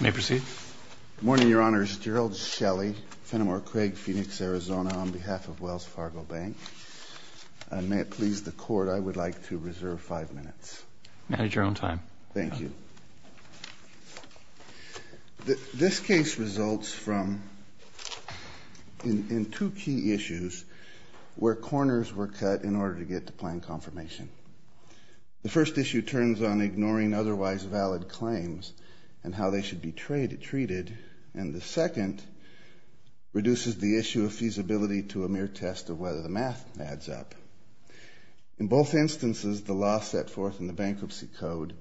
May I proceed? Good morning, your honors. Gerald Shelley, Fenimore Craig, Phoenix, Arizona, on behalf of Wells Fargo Bank. May it please the court I would like to reserve five minutes. Manage your own time. Thank you. This case results from in two key issues where corners were cut in order to get to plan confirmation. The first issue turns on ignoring otherwise valid claims and how they should be treated and the second reduces the issue of feasibility to a mere test of whether the math adds up. In both instances the law set forth in the bankruptcy code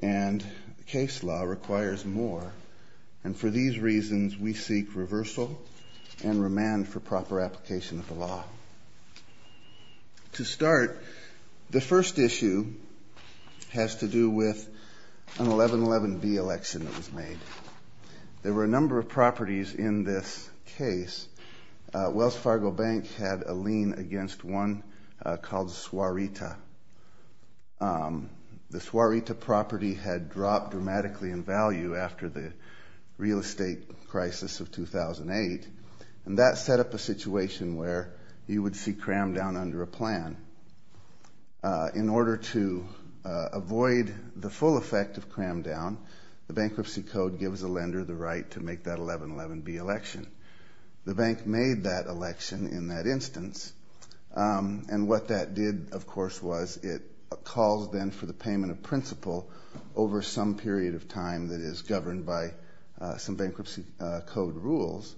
and case law requires more and for these reasons we seek reversal and remand for proper application of the law. To start the first issue has to do with an 1111B election that was made. There were a number of properties in this case. Wells Fargo Bank had a lien against one called Suarita. The Suarita property had dropped dramatically in value after the real estate crisis of 2008 and that set up a situation where you would see cram down under a plan. In order to avoid the full effect of cram down, the bankruptcy code gives a lender the right to make that 1111B election. The bank made that election in that instance and what that did of course was it calls them for the payment of principal over some period of time that is governed by some bankruptcy code rules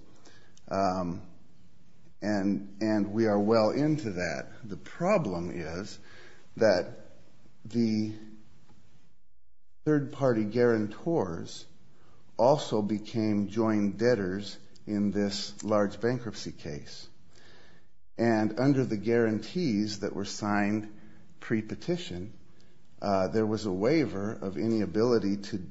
and we are well into that. The problem is that the third-party guarantors also became joint debtors in this large bankruptcy case and under the guarantees that were signed pre-petition there was a waiver of any ability to,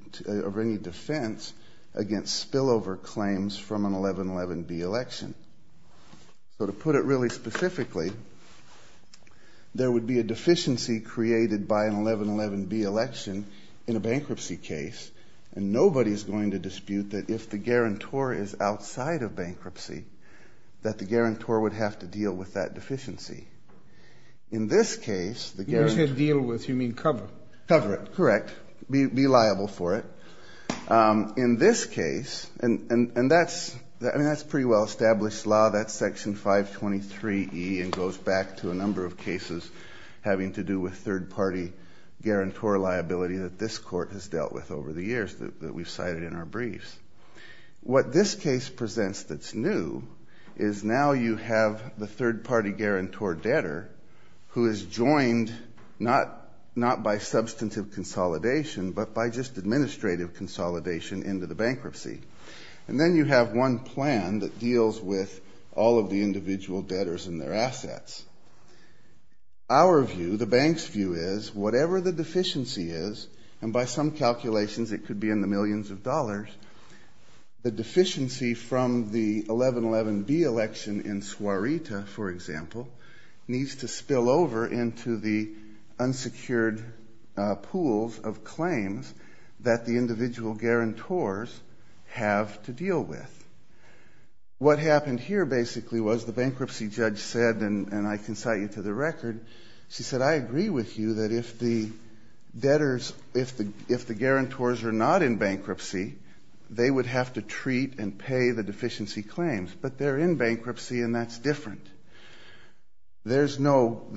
of any defense against spillover claims from an 1111B election. So to put it really specifically, there would be a deficiency created by an 1111B election in a bankruptcy case and nobody is going to dispute that if the guarantor is outside of bankruptcy that the guarantor would have to deal with that deficiency. In this case, the guarantor... be liable for it. In this case, and that's pretty well-established law, that's section 523E and goes back to a number of cases having to do with third-party guarantor liability that this court has dealt with over the years that we've cited in our briefs. What this case presents that's new is now you have the third-party guarantor debtor who is joined not by substantive consolidation but by just administrative consolidation into the bankruptcy. And then you have one plan that deals with all of the individual debtors and their assets. Our view, the bank's view, is whatever the deficiency is, and by some calculations it could be in the millions of dollars, the deficiency from the 1111B election in Suarita, for example, needs to spill over into the unsecured pools of claims that the individual guarantors have to deal with. What happened here basically was the bankruptcy judge said, and I can cite you to the record, she said, I agree with you that if the debtors, if the guarantors are not in bankruptcy, they would have to treat and pay the deficiency claims. But they're in bankruptcy and that's different. There's no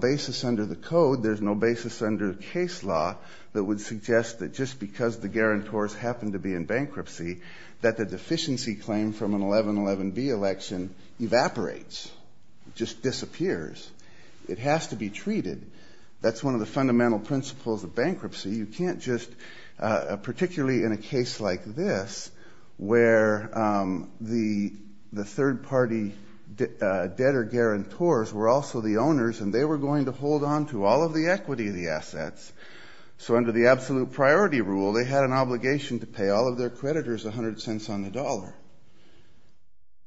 basis under the code, there's no basis under the case law that would suggest that just because the guarantors happen to be in bankruptcy that the deficiency claim from an 1111B election evaporates, just disappears. It has to be treated. That's one of the fundamental principles of bankruptcy. You can't just, particularly in a case like this where the third-party debtor guarantors were also the owners and they were going to hold on to all of the equity of the assets, so under the absolute priority rule they had an obligation to pay all of their creditors a hundred cents on the dollar.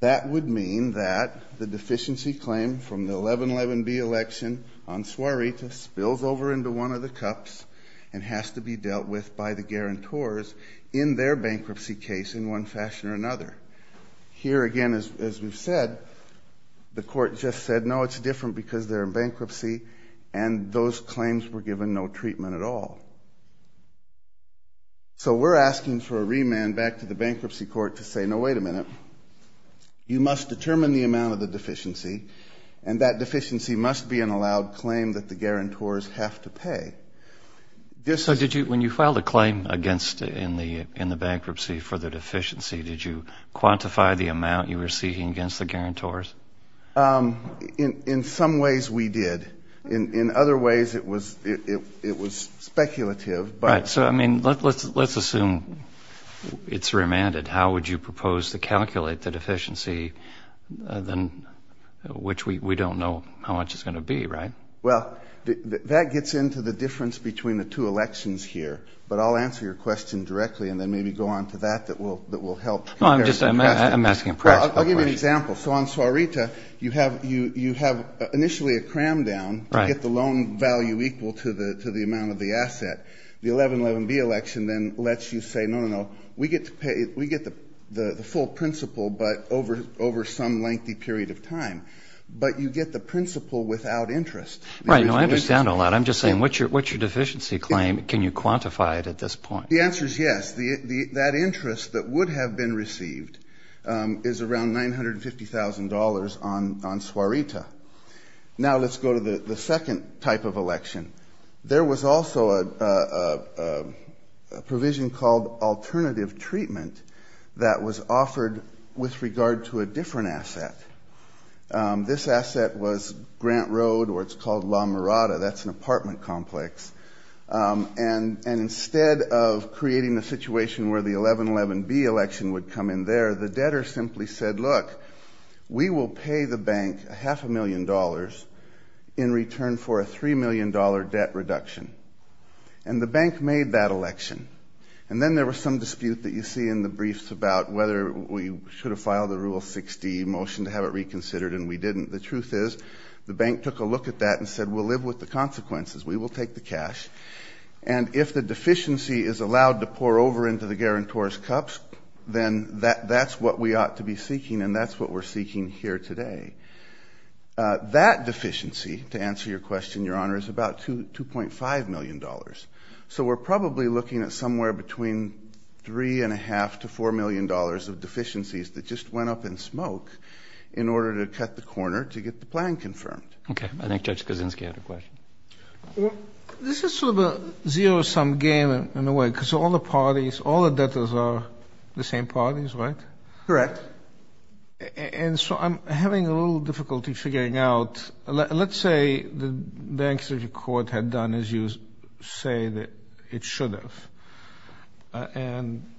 That would mean that the deficiency claim from the 1111B election on Suarita spills over into one of the cups and has to be dealt with by the guarantors in their bankruptcy case in one fashion or another. Here again, as we've said, the guarantors said no, it's different because they're in bankruptcy and those claims were given no treatment at all. So we're asking for a remand back to the bankruptcy court to say, no wait a minute, you must determine the amount of the deficiency and that deficiency must be an allowed claim that the guarantors have to pay. So when you filed a claim against in the bankruptcy for the deficiency, did you quantify the amount you were seeking against the deficiency? In some ways we did, in other ways it was speculative. Right, so I mean let's assume it's remanded, how would you propose to calculate the deficiency, which we don't know how much it's going to be, right? Well, that gets into the difference between the two elections here, but I'll answer your question directly and then maybe go on to that that will help. No, I'm just saying that you have initially a cram down to get the loan value equal to the amount of the asset. The 1111B election then lets you say, no, no, no, we get to pay, we get the full principle but over some lengthy period of time, but you get the principle without interest. Right, I understand all that, I'm just saying what's your deficiency claim, can you quantify it at this point? The answer is yes, that interest that would have been received is around $950,000 on Suarita. Now let's go to the second type of election. There was also a provision called alternative treatment that was offered with regard to a different asset. This asset was Grant Road or it's called La Mirada, that's an apartment complex, and instead of creating a situation where the 1111B election would come in there, the debtor simply said, look, we will pay the bank a half a million dollars in return for a three million dollar debt reduction. And the bank made that election. And then there was some dispute that you see in the briefs about whether we should have filed the Rule 60 motion to have it reconsidered and we didn't. The truth is the bank took a look at that and said, we'll live with the consequences, we will take the cash, and if the deficiency is then that's what we ought to be seeking and that's what we're seeking here today. That deficiency, to answer your question, your honor, is about $2.5 million. So we're probably looking at somewhere between three and a half to four million dollars of deficiencies that just went up in smoke in order to cut the corner to get the plan confirmed. Okay, I think Judge Kuczynski had a question. This is sort of a zero-sum game in a way, because all the parties, all the debtors are the same parties, right? Correct. And so I'm having a little difficulty figuring out, let's say the bank's record had done as you say that it should have. And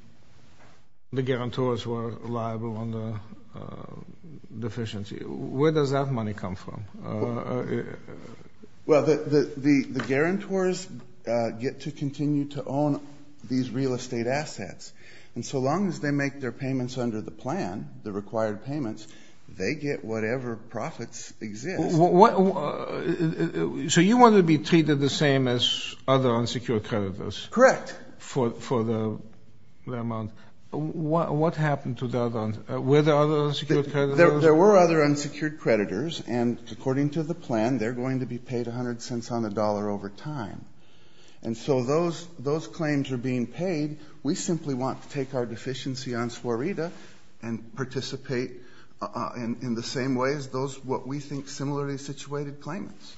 the guarantors were liable on the deficiency. Where does that money come from? Well, the guarantors get to continue to own these real estate assets. And so long as they make their payments under the plan, the required payments, they get whatever profits exist. So you want to be treated the same as other unsecured creditors? Correct. For the amount. What happened to the other unsecured creditors? There were other unsecured creditors, and according to the plan, they're going to be paid a hundred cents on the dollar over time. And so those claims are being paid. We simply want to take our deficiency on Swarita and participate in the same way as those what we think similarly situated claimants.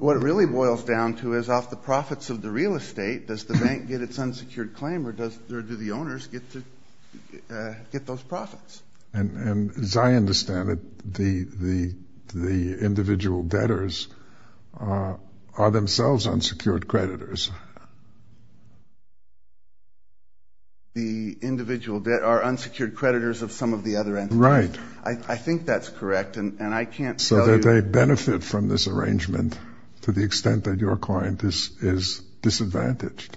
What it really boils down to is off the profits of the real estate, does the bank get its unsecured claim, or do the owners get those profits? And as I understand it, the individual debtors are themselves unsecured creditors. The individual debtors are unsecured creditors of some of the other entities. Right. I think that's correct, and I can't tell you... So that they benefit from this arrangement to the extent that your client is disadvantaged.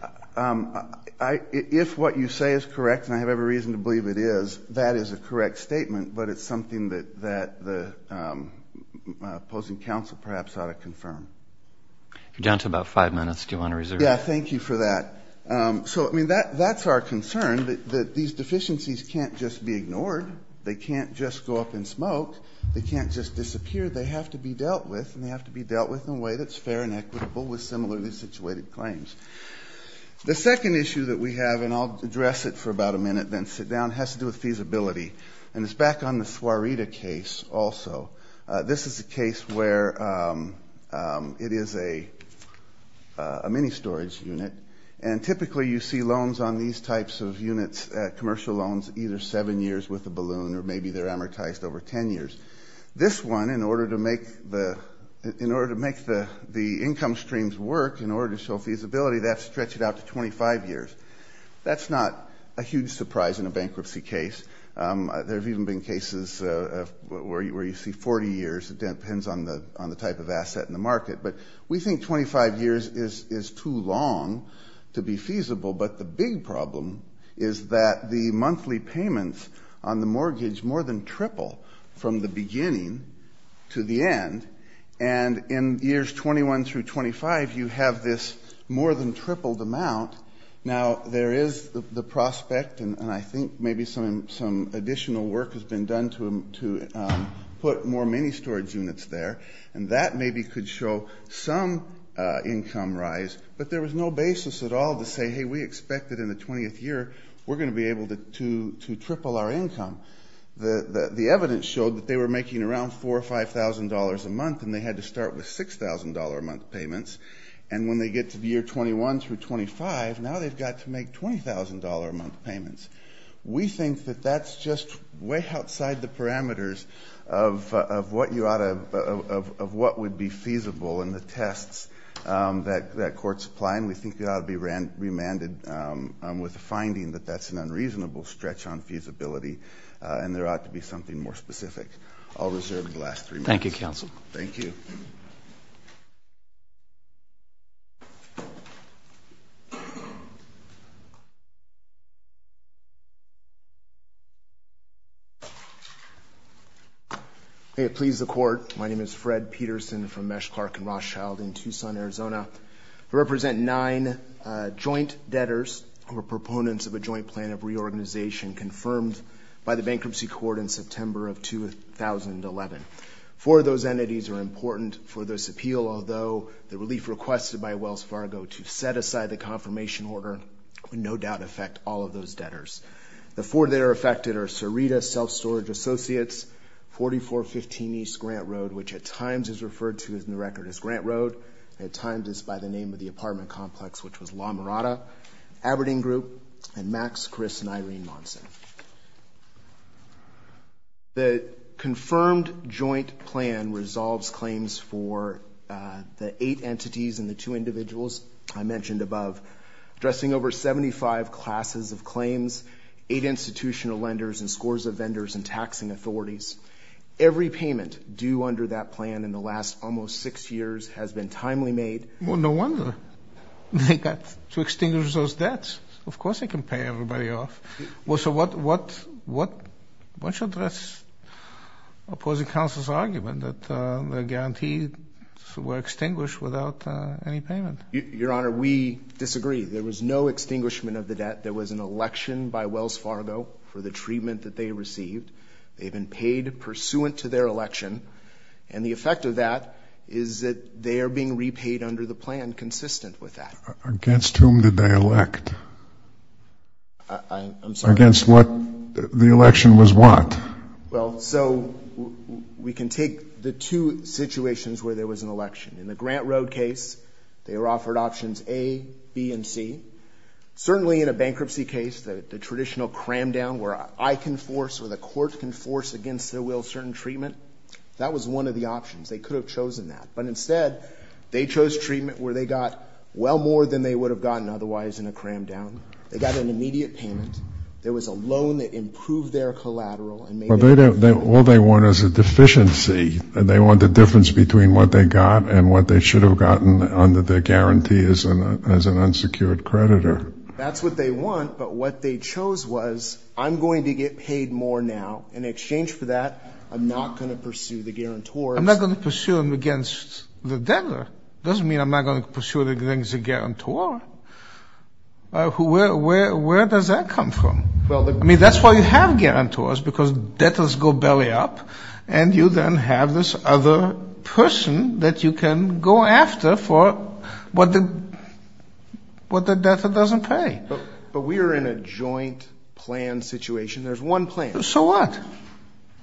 If what you say is correct, and I have every reason to believe it is, that is a correct statement, but it's something that the opposing counsel perhaps ought to confirm. You're down to about five minutes. Do you want to reserve? Yeah, thank you for that. So, I mean, that's our concern, that these deficiencies can't just be ignored. They can't just go up in smoke. They can't just disappear. They have to be dealt with, and they have to be dealt with in a way that's fair and equitable with similarly situated claims. The second issue that we have, and I'll address it for about a minute, then sit down, has to do with feasibility, and it's back on the Suareta case also. This is a case where it is a mini storage unit, and typically you see loans on these types of units, commercial loans, either seven years with a balloon, or maybe they're amortized over ten years. This one, in income streams work in order to show feasibility, they have to stretch it out to 25 years. That's not a huge surprise in a bankruptcy case. There have even been cases where you see 40 years. It depends on the type of asset in the market, but we think 25 years is too long to be feasible, but the big problem is that the monthly payments on the mortgage more than triple from the 25, you have this more than tripled amount. Now, there is the prospect, and I think maybe some additional work has been done to put more mini storage units there, and that maybe could show some income rise, but there was no basis at all to say, hey, we expect that in the 20th year we're going to be able to triple our income. The evidence showed that they were making around four or five thousand dollars a month, and they had to start with six thousand dollar a month payments, and when they get to the year 21 through 25, now they've got to make twenty thousand dollar a month payments. We think that that's just way outside the parameters of what would be feasible in the tests that courts apply, and we think it ought to be remanded with a finding that that's an unreasonable stretch on feasibility, and there ought to be something more specific. I'll reserve the last three minutes. Thank you, counsel. Thank you. May it please the court, my name is Fred Peterson from Mesh Clark and Rothschild in Tucson, Arizona. I represent nine joint debtors who are proponents of a joint plan of reorganization confirmed by the Bankruptcy Court in September of 2011. Four of those entities are important for this appeal, although the relief requested by Wells Fargo to set aside the confirmation order would no doubt affect all of those debtors. The four that are affected are Sarita Self Storage Associates, 4415 East Grant Road, which at times is referred to in the record as Grant Road, at times is by the name of the apartment complex, which was La Vista Apartments, Chris and Irene Monson. The confirmed joint plan resolves claims for the eight entities and the two individuals I mentioned above, addressing over 75 classes of claims, eight institutional lenders and scores of vendors and taxing authorities. Every payment due under that plan in the last almost six years has been timely made. Well, no wonder they got to extinguish those debts. Of course they can pay everybody off. Well, so what should address opposing counsel's argument that the guarantees were extinguished without any payment? Your Honor, we disagree. There was no extinguishment of the debt. There was an election by Wells Fargo for the treatment that they received. They've been paid pursuant to their election, and the effect of that is that they are being I'm sorry. Against what? The election was what? Well, so we can take the two situations where there was an election. In the Grant Road case, they were offered options A, B, and C. Certainly in a bankruptcy case, the traditional cram-down where I can force or the court can force against their will certain treatment, that was one of the options. They could have chosen that, but instead they chose treatment where they got well more than they would have gotten otherwise in a cram-down. They got an immediate payment. There was a loan that improved their collateral. All they want is a deficiency, and they want the difference between what they got and what they should have gotten under their guarantee as an unsecured creditor. That's what they want, but what they chose was, I'm going to get paid more now. In exchange for that, I'm not going to pursue the guarantor. I'm not going to pursue them against the debtor. Doesn't mean I'm not going to pursue them against the guarantor. Where does that come from? I mean, that's why you have guarantors, because debtors go belly-up, and you then have this other person that you can go after for what the debtor doesn't pay. But we are in a joint plan situation. There's one claim. So what?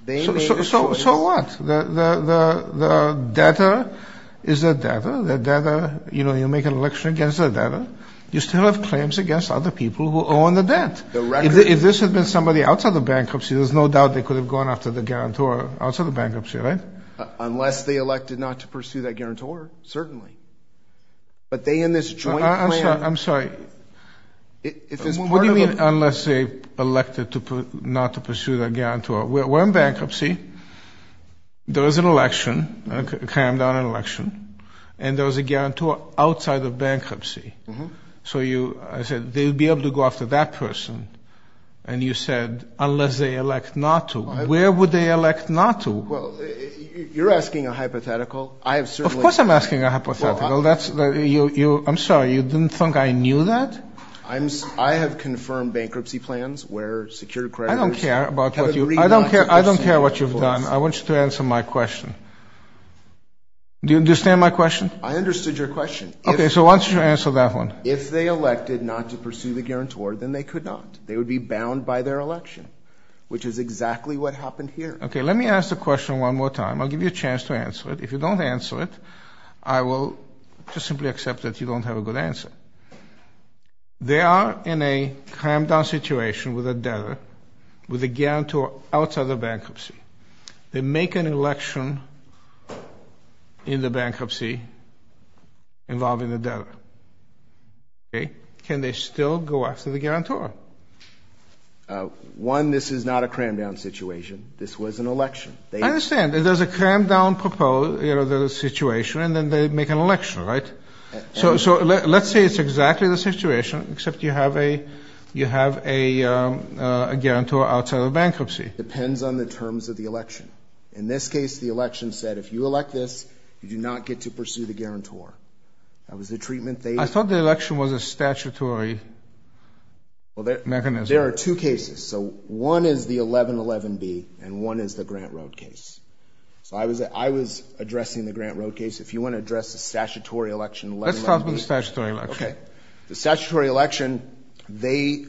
So what? The debtor is a debtor. The debtor, you know, you make an election against the debtor. You still have claims against other people who own the debt. If this had been somebody outside the bankruptcy, there's no doubt they could have gone after the guarantor outside the bankruptcy, right? Unless they elected not to pursue that guarantor, certainly. But they in this joint plan... I'm sorry. What do you mean, unless they elected not to pursue that guarantor? We're in bankruptcy. There was an election, a crammed-out election, and there was a guarantor outside of bankruptcy. So you, I said, they would be able to go after that person. And you said, unless they elect not to. Where would they elect not to? Well, you're asking a hypothetical. Of course I'm sorry. You didn't think I knew that? I'm, I have confirmed bankruptcy plans where secured creditors... I don't care about what you, I don't care, I don't care what you've done. I want you to answer my question. Do you understand my question? I understood your question. Okay, so why don't you answer that one? If they elected not to pursue the guarantor, then they could not. They would be bound by their election, which is exactly what happened here. Okay, let me ask the question one more time. I'll give you a chance to answer it. If you don't answer it, I will just simply accept that you don't have a good answer. They are in a crammed-out situation with a debtor, with a guarantor outside of bankruptcy. They make an election in the bankruptcy involving the debtor. Okay, can they still go after the guarantor? One, this is not a crammed-out situation. This was an election, right? So let's say it's exactly the situation, except you have a, you have a guarantor outside of bankruptcy. Depends on the terms of the election. In this case, the election said if you elect this, you do not get to pursue the guarantor. That was the treatment they... I thought the election was a statutory mechanism. There are two cases. So one is the 1111B and one is the Grant Road case. So I was, I was addressing the Grant Road case. If you want to address the statutory election, 1111B... Let's talk about the statutory election. Okay, the statutory election, they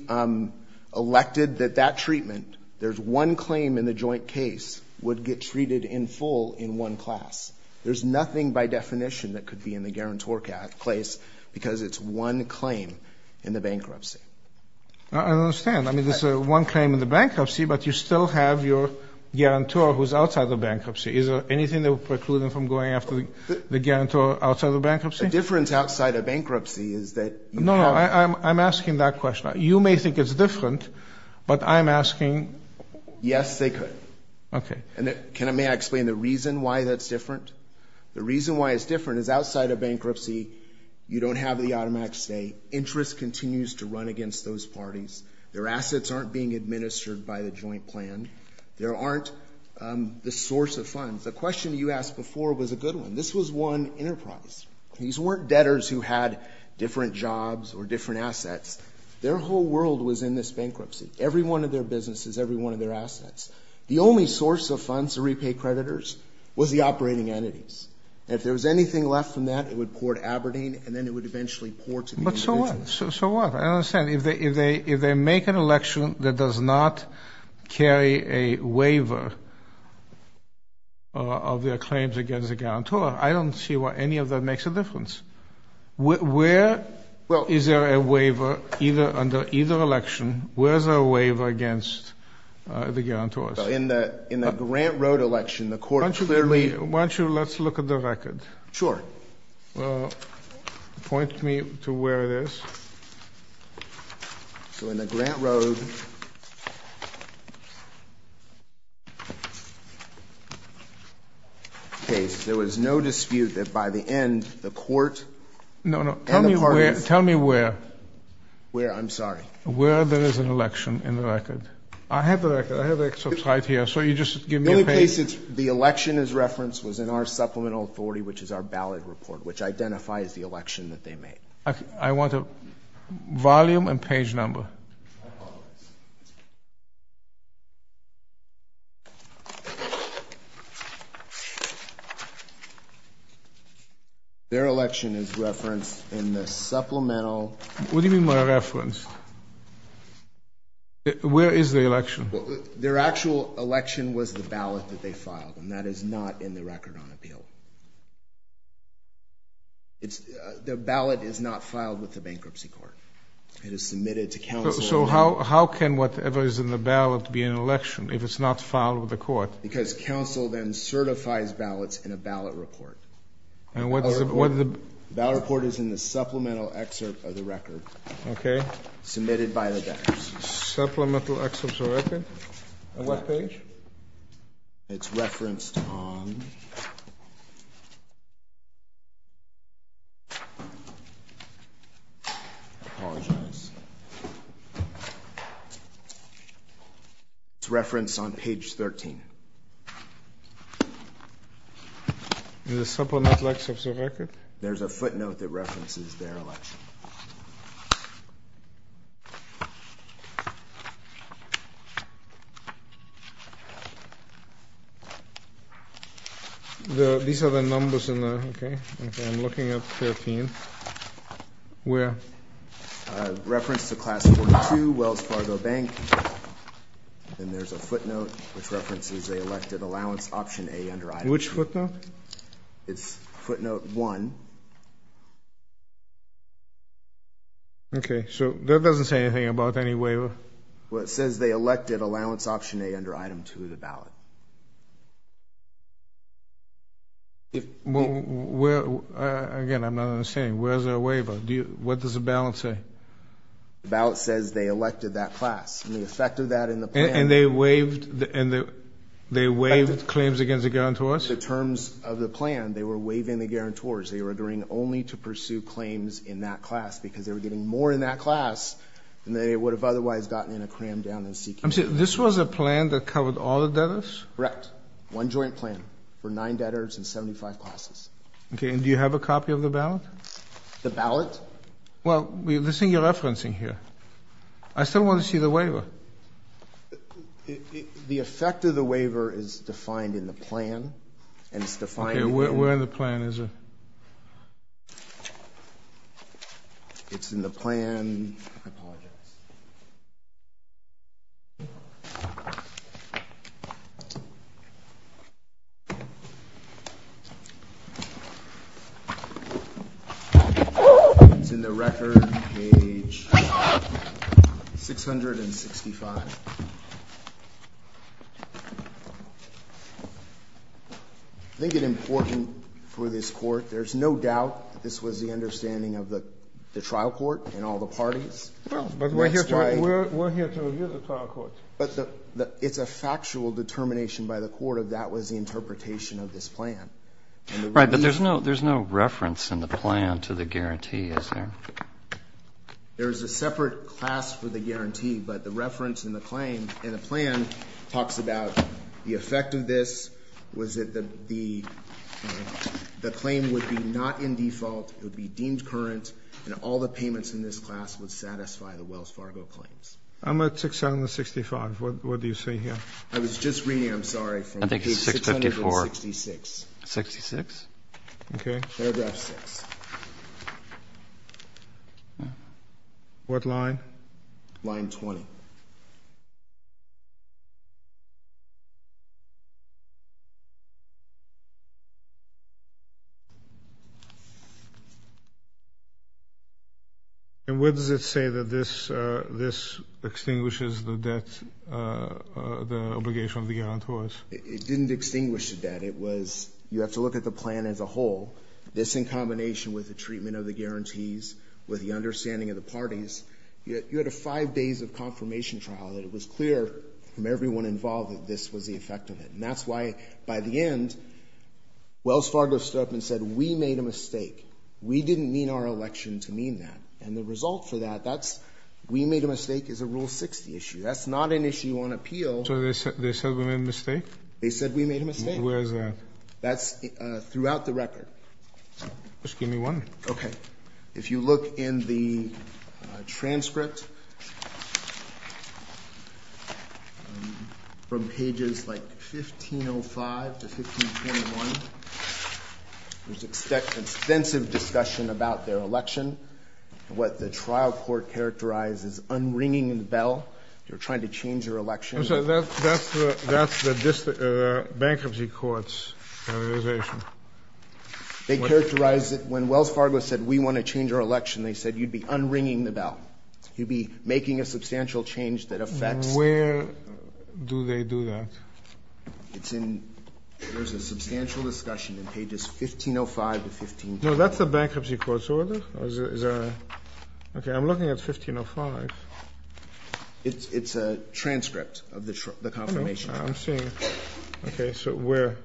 elected that that treatment, there's one claim in the joint case, would get treated in full in one class. There's nothing by definition that could be in the guarantor case because it's one claim in the bankruptcy. I understand. I mean, there's one claim in the bankruptcy, but you still have your guarantor who's outside the bankruptcy. Is there anything that would preclude them from going after the guarantor outside the bankruptcy? The difference outside of bankruptcy is that... No, no, I'm asking that question. You may think it's different, but I'm asking... Yes, they could. Okay. And can I, may I explain the reason why that's different? The reason why it's different is outside of bankruptcy, you don't have the automatic stay. Interest continues to run against those parties. Their assets aren't being administered by the joint plan. There aren't the source of funds. The question you asked before was a good one. This was one enterprise. These weren't debtors who had different jobs or different assets. Their whole world was in this bankruptcy. Every one of their businesses, every one of their assets. The only source of funds to repay creditors was the operating entities. If there was anything left from that, it would pour to Aberdeen, and then it would eventually pour to... But so what? So what? I don't understand. If they make an election that does not carry a waiver of their claims against the guarantor, I don't see why any of that makes a difference. Where is there a waiver under either election? Where's a waiver against the guarantors? In the Grant Road election, the court clearly... Why don't you, let's look at the record. Sure. Point me to where it is. So in the Grant Road case, there was no dispute that by the end, the court and the parties... No, no. Tell me where. Where? I'm sorry. Where there is an election in the record. I have the record. I have excerpts right here. So you just give me a page. The only place the election is in our supplemental authority, which is our ballot report, which identifies the election that they made. I want a volume and page number. Their election is referenced in the supplemental... What do you mean by referenced? Where is the election? Their actual election was the ballot that they put on appeal. The ballot is not filed with the bankruptcy court. It is submitted to counsel. So how can whatever is in the ballot be an election if it's not filed with the court? Because counsel then certifies ballots in a ballot report. And what is it? The ballot report is in the supplemental excerpt of the record. Okay. Supplemental excerpt of the record? On what page? It's referenced on... It's referenced on page 13. The supplemental excerpt of the record? There's a footnote that says... These are the numbers in the... Okay. I'm looking at 13. Where? Referenced to Class 42 Wells Fargo Bank. And there's a footnote which references a elected allowance option A under item B. Which footnote? It's footnote 1. Okay. So that doesn't say anything about any waiver? Well, it says they elected allowance option A under item 2 of the ballot. Again, I'm not understanding. Where's their waiver? What does the ballot say? The ballot says they elected that class. And the effect of that in the plan... And they waived claims against the guarantors? The terms of the plan, they were waiving the guarantors. They were agreeing only to pursue claims in that class because they were getting more in that class than they would have otherwise gotten in a crammed down and seeking... I'm saying this was a plan that covered all the debtors? Correct. One joint plan for nine debtors and 75 classes. Okay. And do you have a copy of the ballot? The ballot? Well, this thing you're The effect of the waiver is defined in the plan and it's defined... Okay, where in the plan is it? It's in the plan. I apologize. It's in the record, page 665. I think it's important for this court, there's no doubt that this was the understanding of the But it's a factual determination by the court of that was the interpretation of this plan. Right, but there's no reference in the plan to the guarantee, is there? There's a separate class for the guarantee, but the reference in the claim in the plan talks about the effect of this, was it that the claim would be not in default, it would be deemed current, and all the payments in this class would satisfy the Wells Fargo claims. I'm at 665. What do you see here? I was just reading, I'm sorry. I think it's 654. 66. Okay. What line? Line 20. And where does it say that this extinguishes the debt, the obligation of the guarantors? It didn't extinguish the debt. It was, you have to look at the plan as a whole. This in combination with the treatment of the guarantees, with the understanding of the parties, you had a five days of confirmation trial that it was clear from everyone involved that this was the effect of it. And that's why by the end, Wells Fargo stood up and said, we made a mistake. We didn't mean our election to mean that. And the result for that, that's, we made a mistake is a Rule 60 issue. That's not an issue on appeal. So they said we made a mistake? They said we made a mistake. Where's that? That's throughout the record. Just give me one. Okay. If you look in the transcript from pages like 1505 to 1521, there's extensive discussion about their election, what the trial court characterized as unringing the bell. They were trying to change their election. I'm sorry, that's the bankruptcy court's characterization. They characterized it when Wells Fargo said, we want to change our election. They said, you'd be unringing the bell. You'd be making a substantial change that affects. Where do they do that? It's in, there's a substantial discussion in pages 1505 to 1521. No, that's the bankruptcy court's order. Okay. I'm looking at 1505. It's a transcript of the confirmation. I'm seeing. Okay. So where? Okay.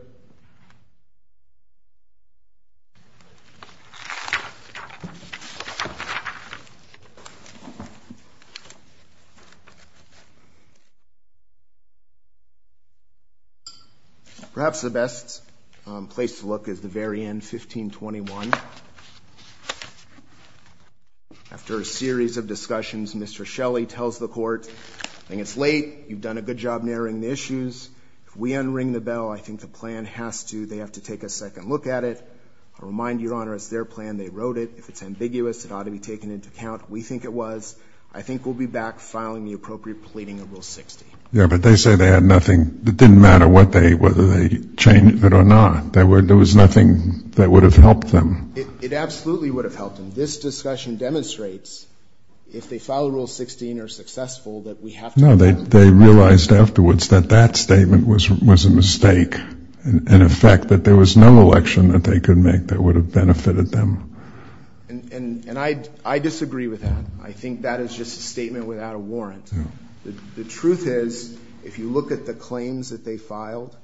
Perhaps the best place to look is the very end, 1521. After a series of discussions, Mr. Shelley tells the court, I think it's late. You've done a good job narrowing the issues. If we unring the bell, I think the plan has to, they have to take a second look at it. I remind Your Honor, it's their plan. They wrote it. If it's ambiguous, it ought to be taken into account. We think it was. I think we'll be back filing the appropriate pleading of Rule 60. Yeah, but they say they had nothing. It didn't matter what they, whether they changed it or not. There were, there was nothing that would have helped them. It absolutely would have helped them. This discussion demonstrates if they follow Rule 16 are successful that we have to. No, they, they realized afterwards that that statement was, was a mistake and a fact that there was no election that they could make that would have benefited them. And, and, and I, I disagree with that. I think that is just a statement without a warrant. The truth is, if you look at the claims that they filed,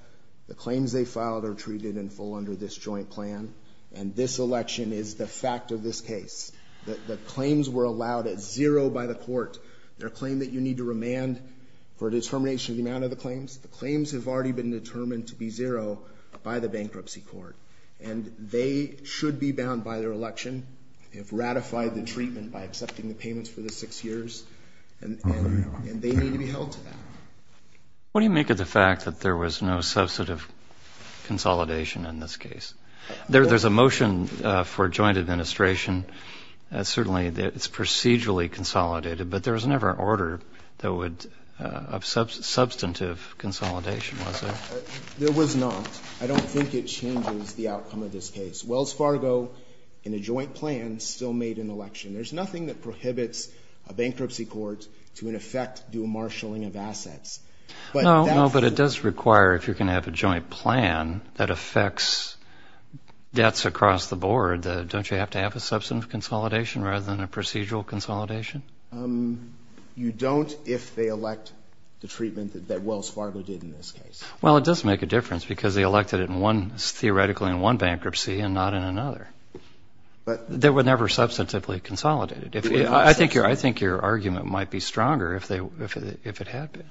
the claims they filed are treated in full under this joint plan. And this election is the fact of this case, that the claims were allowed at zero by the court. Their claim that you need to remand for determination of the amount of the claims, the claims have already been determined to be zero by the bankruptcy court. And they should be bound by their election. They've ratified the treatment by accepting the payments for the six years. And, and they need to be held to that. What do you make of the fact that there was no substantive consolidation in this case? There's a motion for joint administration. There was not. I don't think it changes the outcome of this case. Wells Fargo in a joint plan still made an election. There's nothing that prohibits a bankruptcy court to, in effect, do marshalling of assets. But it does require, if you're going to have a joint plan that affects debts across the board, don't you have to have a substantive consolidation rather than a procedural consolidation? Um, you don't if they elect the treatment that Wells Fargo did in this case. Well, it does make a difference because they elected it in one, theoretically, in one bankruptcy and not in another. But they were never substantively consolidated. If I think your, I think your argument might be stronger if they, if it had been.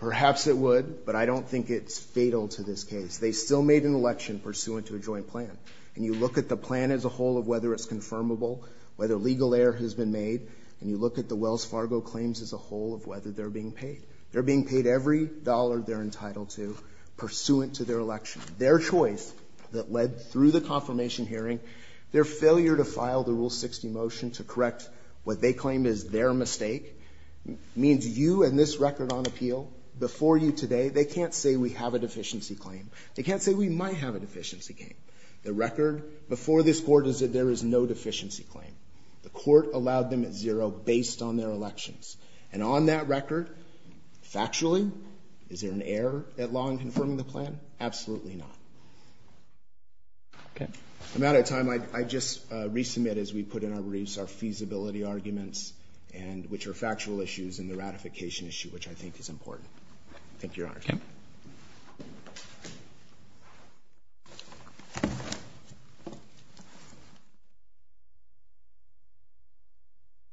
Perhaps it would, but I don't think it's fatal to this case. They still made an election pursuant to a joint plan. And you look at the plan as a whole of whether it's confirmable, whether legal error has been made. And you look at the Wells Fargo claims as a whole of whether they're being paid. They're being paid every dollar they're entitled to pursuant to their election. Their choice that led through the confirmation hearing, their failure to file the Rule 60 motion to correct what they claim is their mistake, means you and this record on appeal before you today, they can't say we have a deficiency claim. They can't say we might have a deficiency claim. The record before this court is that there is no deficiency claim. The court allowed them at zero based on their elections. And on that record, factually, is there an error at law in confirming the plan? Absolutely not. Okay. I'm out of time. I just resubmit as we put in our briefs, our feasibility arguments, which are factual issues and the ratification issue, which I think is important. Thank you, Your Honor. Okay.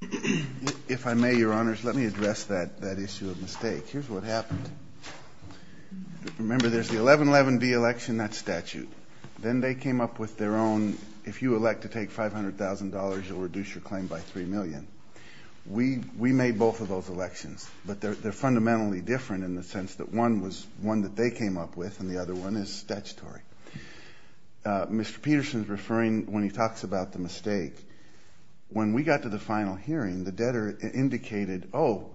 Thank you. If I may, Your Honors, let me address that issue of mistake. Here's what happened. Remember, there's the 1111B election, that's statute. Then they came up with their own, if you elect to take $500,000, you'll reduce your claim by $3 million. We made both of those elections. But they're fundamentally different in the sense that one was one that they came up with and the other one is statutory. Mr. Peterson is referring, when he talks about the mistake, when we got to the final hearing, the debtor indicated, oh,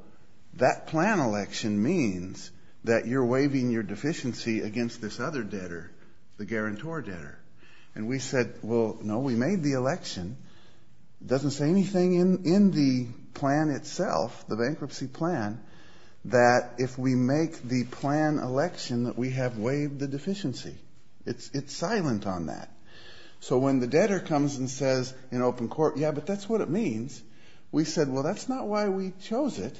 that plan election means that you're waiving your deficiency against this other debtor, the guarantor debtor. And we said, well, no, we made the election. It doesn't say anything in the plan itself, the bankruptcy plan, that if we make the plan election that we have waived the deficiency. It's silent on that. So when the debtor comes and says in open court, yeah, but that's what it means. We said, well, that's not why we chose it.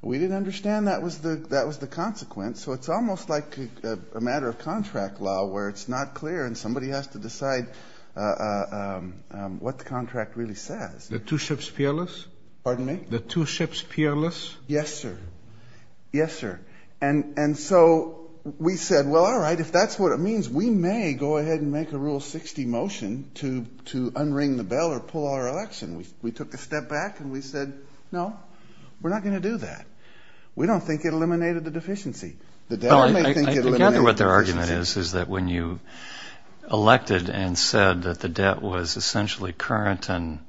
We didn't understand that was the consequence. So it's almost like a matter of contract law where it's not clear and somebody has to decide what the contract really says. The two ships fearless? Pardon me? The two ships fearless? Yes, sir. Yes, sir. And so we said, well, all right, if that's what it means, we may go ahead and make a rule 60 motion to unring the bell or pull our election. We took a step back and we said, no, we're not going to do that. We don't think it eliminated the deficiency. The debtor may think it eliminated the deficiency. I gather what their argument is, is that when you elected and said that the debt was essentially current and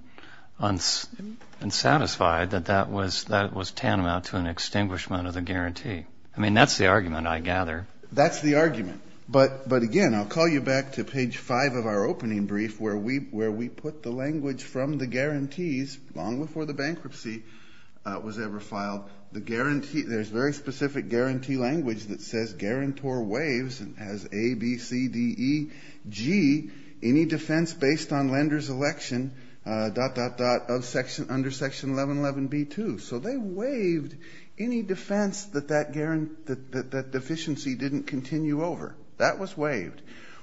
unsatisfied, that that was tantamount to an extinguishment of the guarantee. That's the argument, I gather. That's the argument. But again, I'll call you back to page five of our opening brief where we put the language from the guarantees long before the bankruptcy was ever filed. There's very specific guarantee language that says, guarantor waives and has A, B, C, D, E, G, any defense based on lender's election, dot, dot, dot, under section 1111B2. So they waived any defense that that deficiency didn't continue over. That was waived.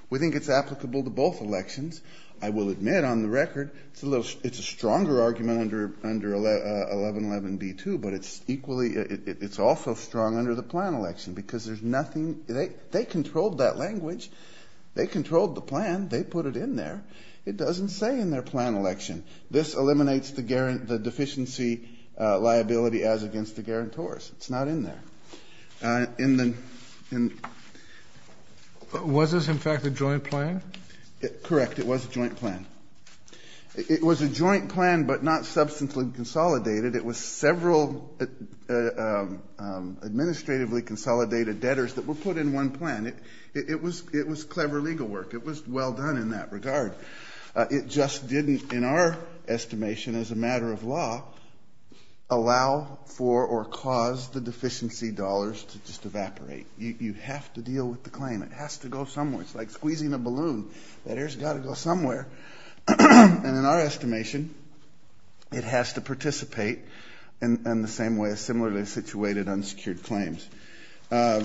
We think it's applicable to both elections. I will admit on the record, it's a stronger argument under 1111B2, but it's equally, it's also strong under the plan election because there's nothing, they controlled that language. They controlled the plan. They put it in there. It doesn't say in their plan election. This eliminates the deficiency liability as against the guarantors. It's not in there. Was this, in fact, a joint plan? Correct. It was a joint plan. It was a joint plan, but not substantially consolidated. It was several administratively consolidated debtors that were put in one plan. It was clever legal work. It was well done in that regard. It just didn't, in our estimation, as a matter of law, allow for or cause the deficiency dollars to just evaporate. You have to deal with the claim. It has to go somewhere. It's like squeezing a balloon. That air's got to go somewhere. And in our estimation, it has to participate in the same way as similarly situated unsecured claims. A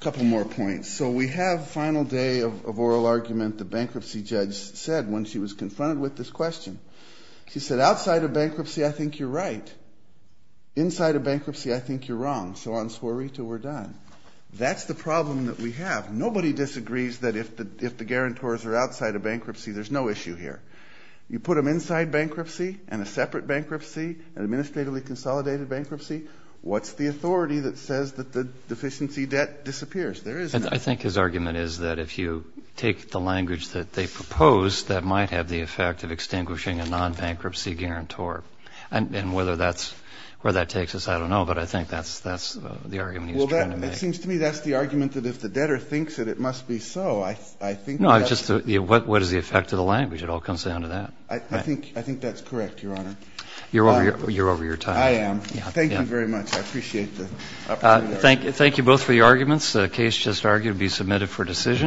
couple more points. So we have a final day of oral argument. The bankruptcy judge said when she was confronted with this question, she said, outside of bankruptcy, I think you're right. Inside of bankruptcy, I think you're wrong. So on swerita, we're done. That's the problem that we have. Nobody disagrees that if the guarantors are outside of bankruptcy, there's no issue here. You put them inside bankruptcy and a separate bankruptcy, an administratively consolidated bankruptcy, what's the authority that says that the deficiency debt disappears? I think his argument is that if you take the language that they propose, that might have the effect of extinguishing a non-bankruptcy guarantor. And whether that's where that takes us, I don't know. But I think that's the argument he's trying to make. It seems to me that's the argument that if the debtor thinks that it must be so. I think that's... No, just what is the effect of the language? It all comes down to that. I think that's correct, Your Honor. You're over your time. I am. Thank you very much. I appreciate the opportunity. Thank you both for your arguments. Case just argued to be submitted for decision.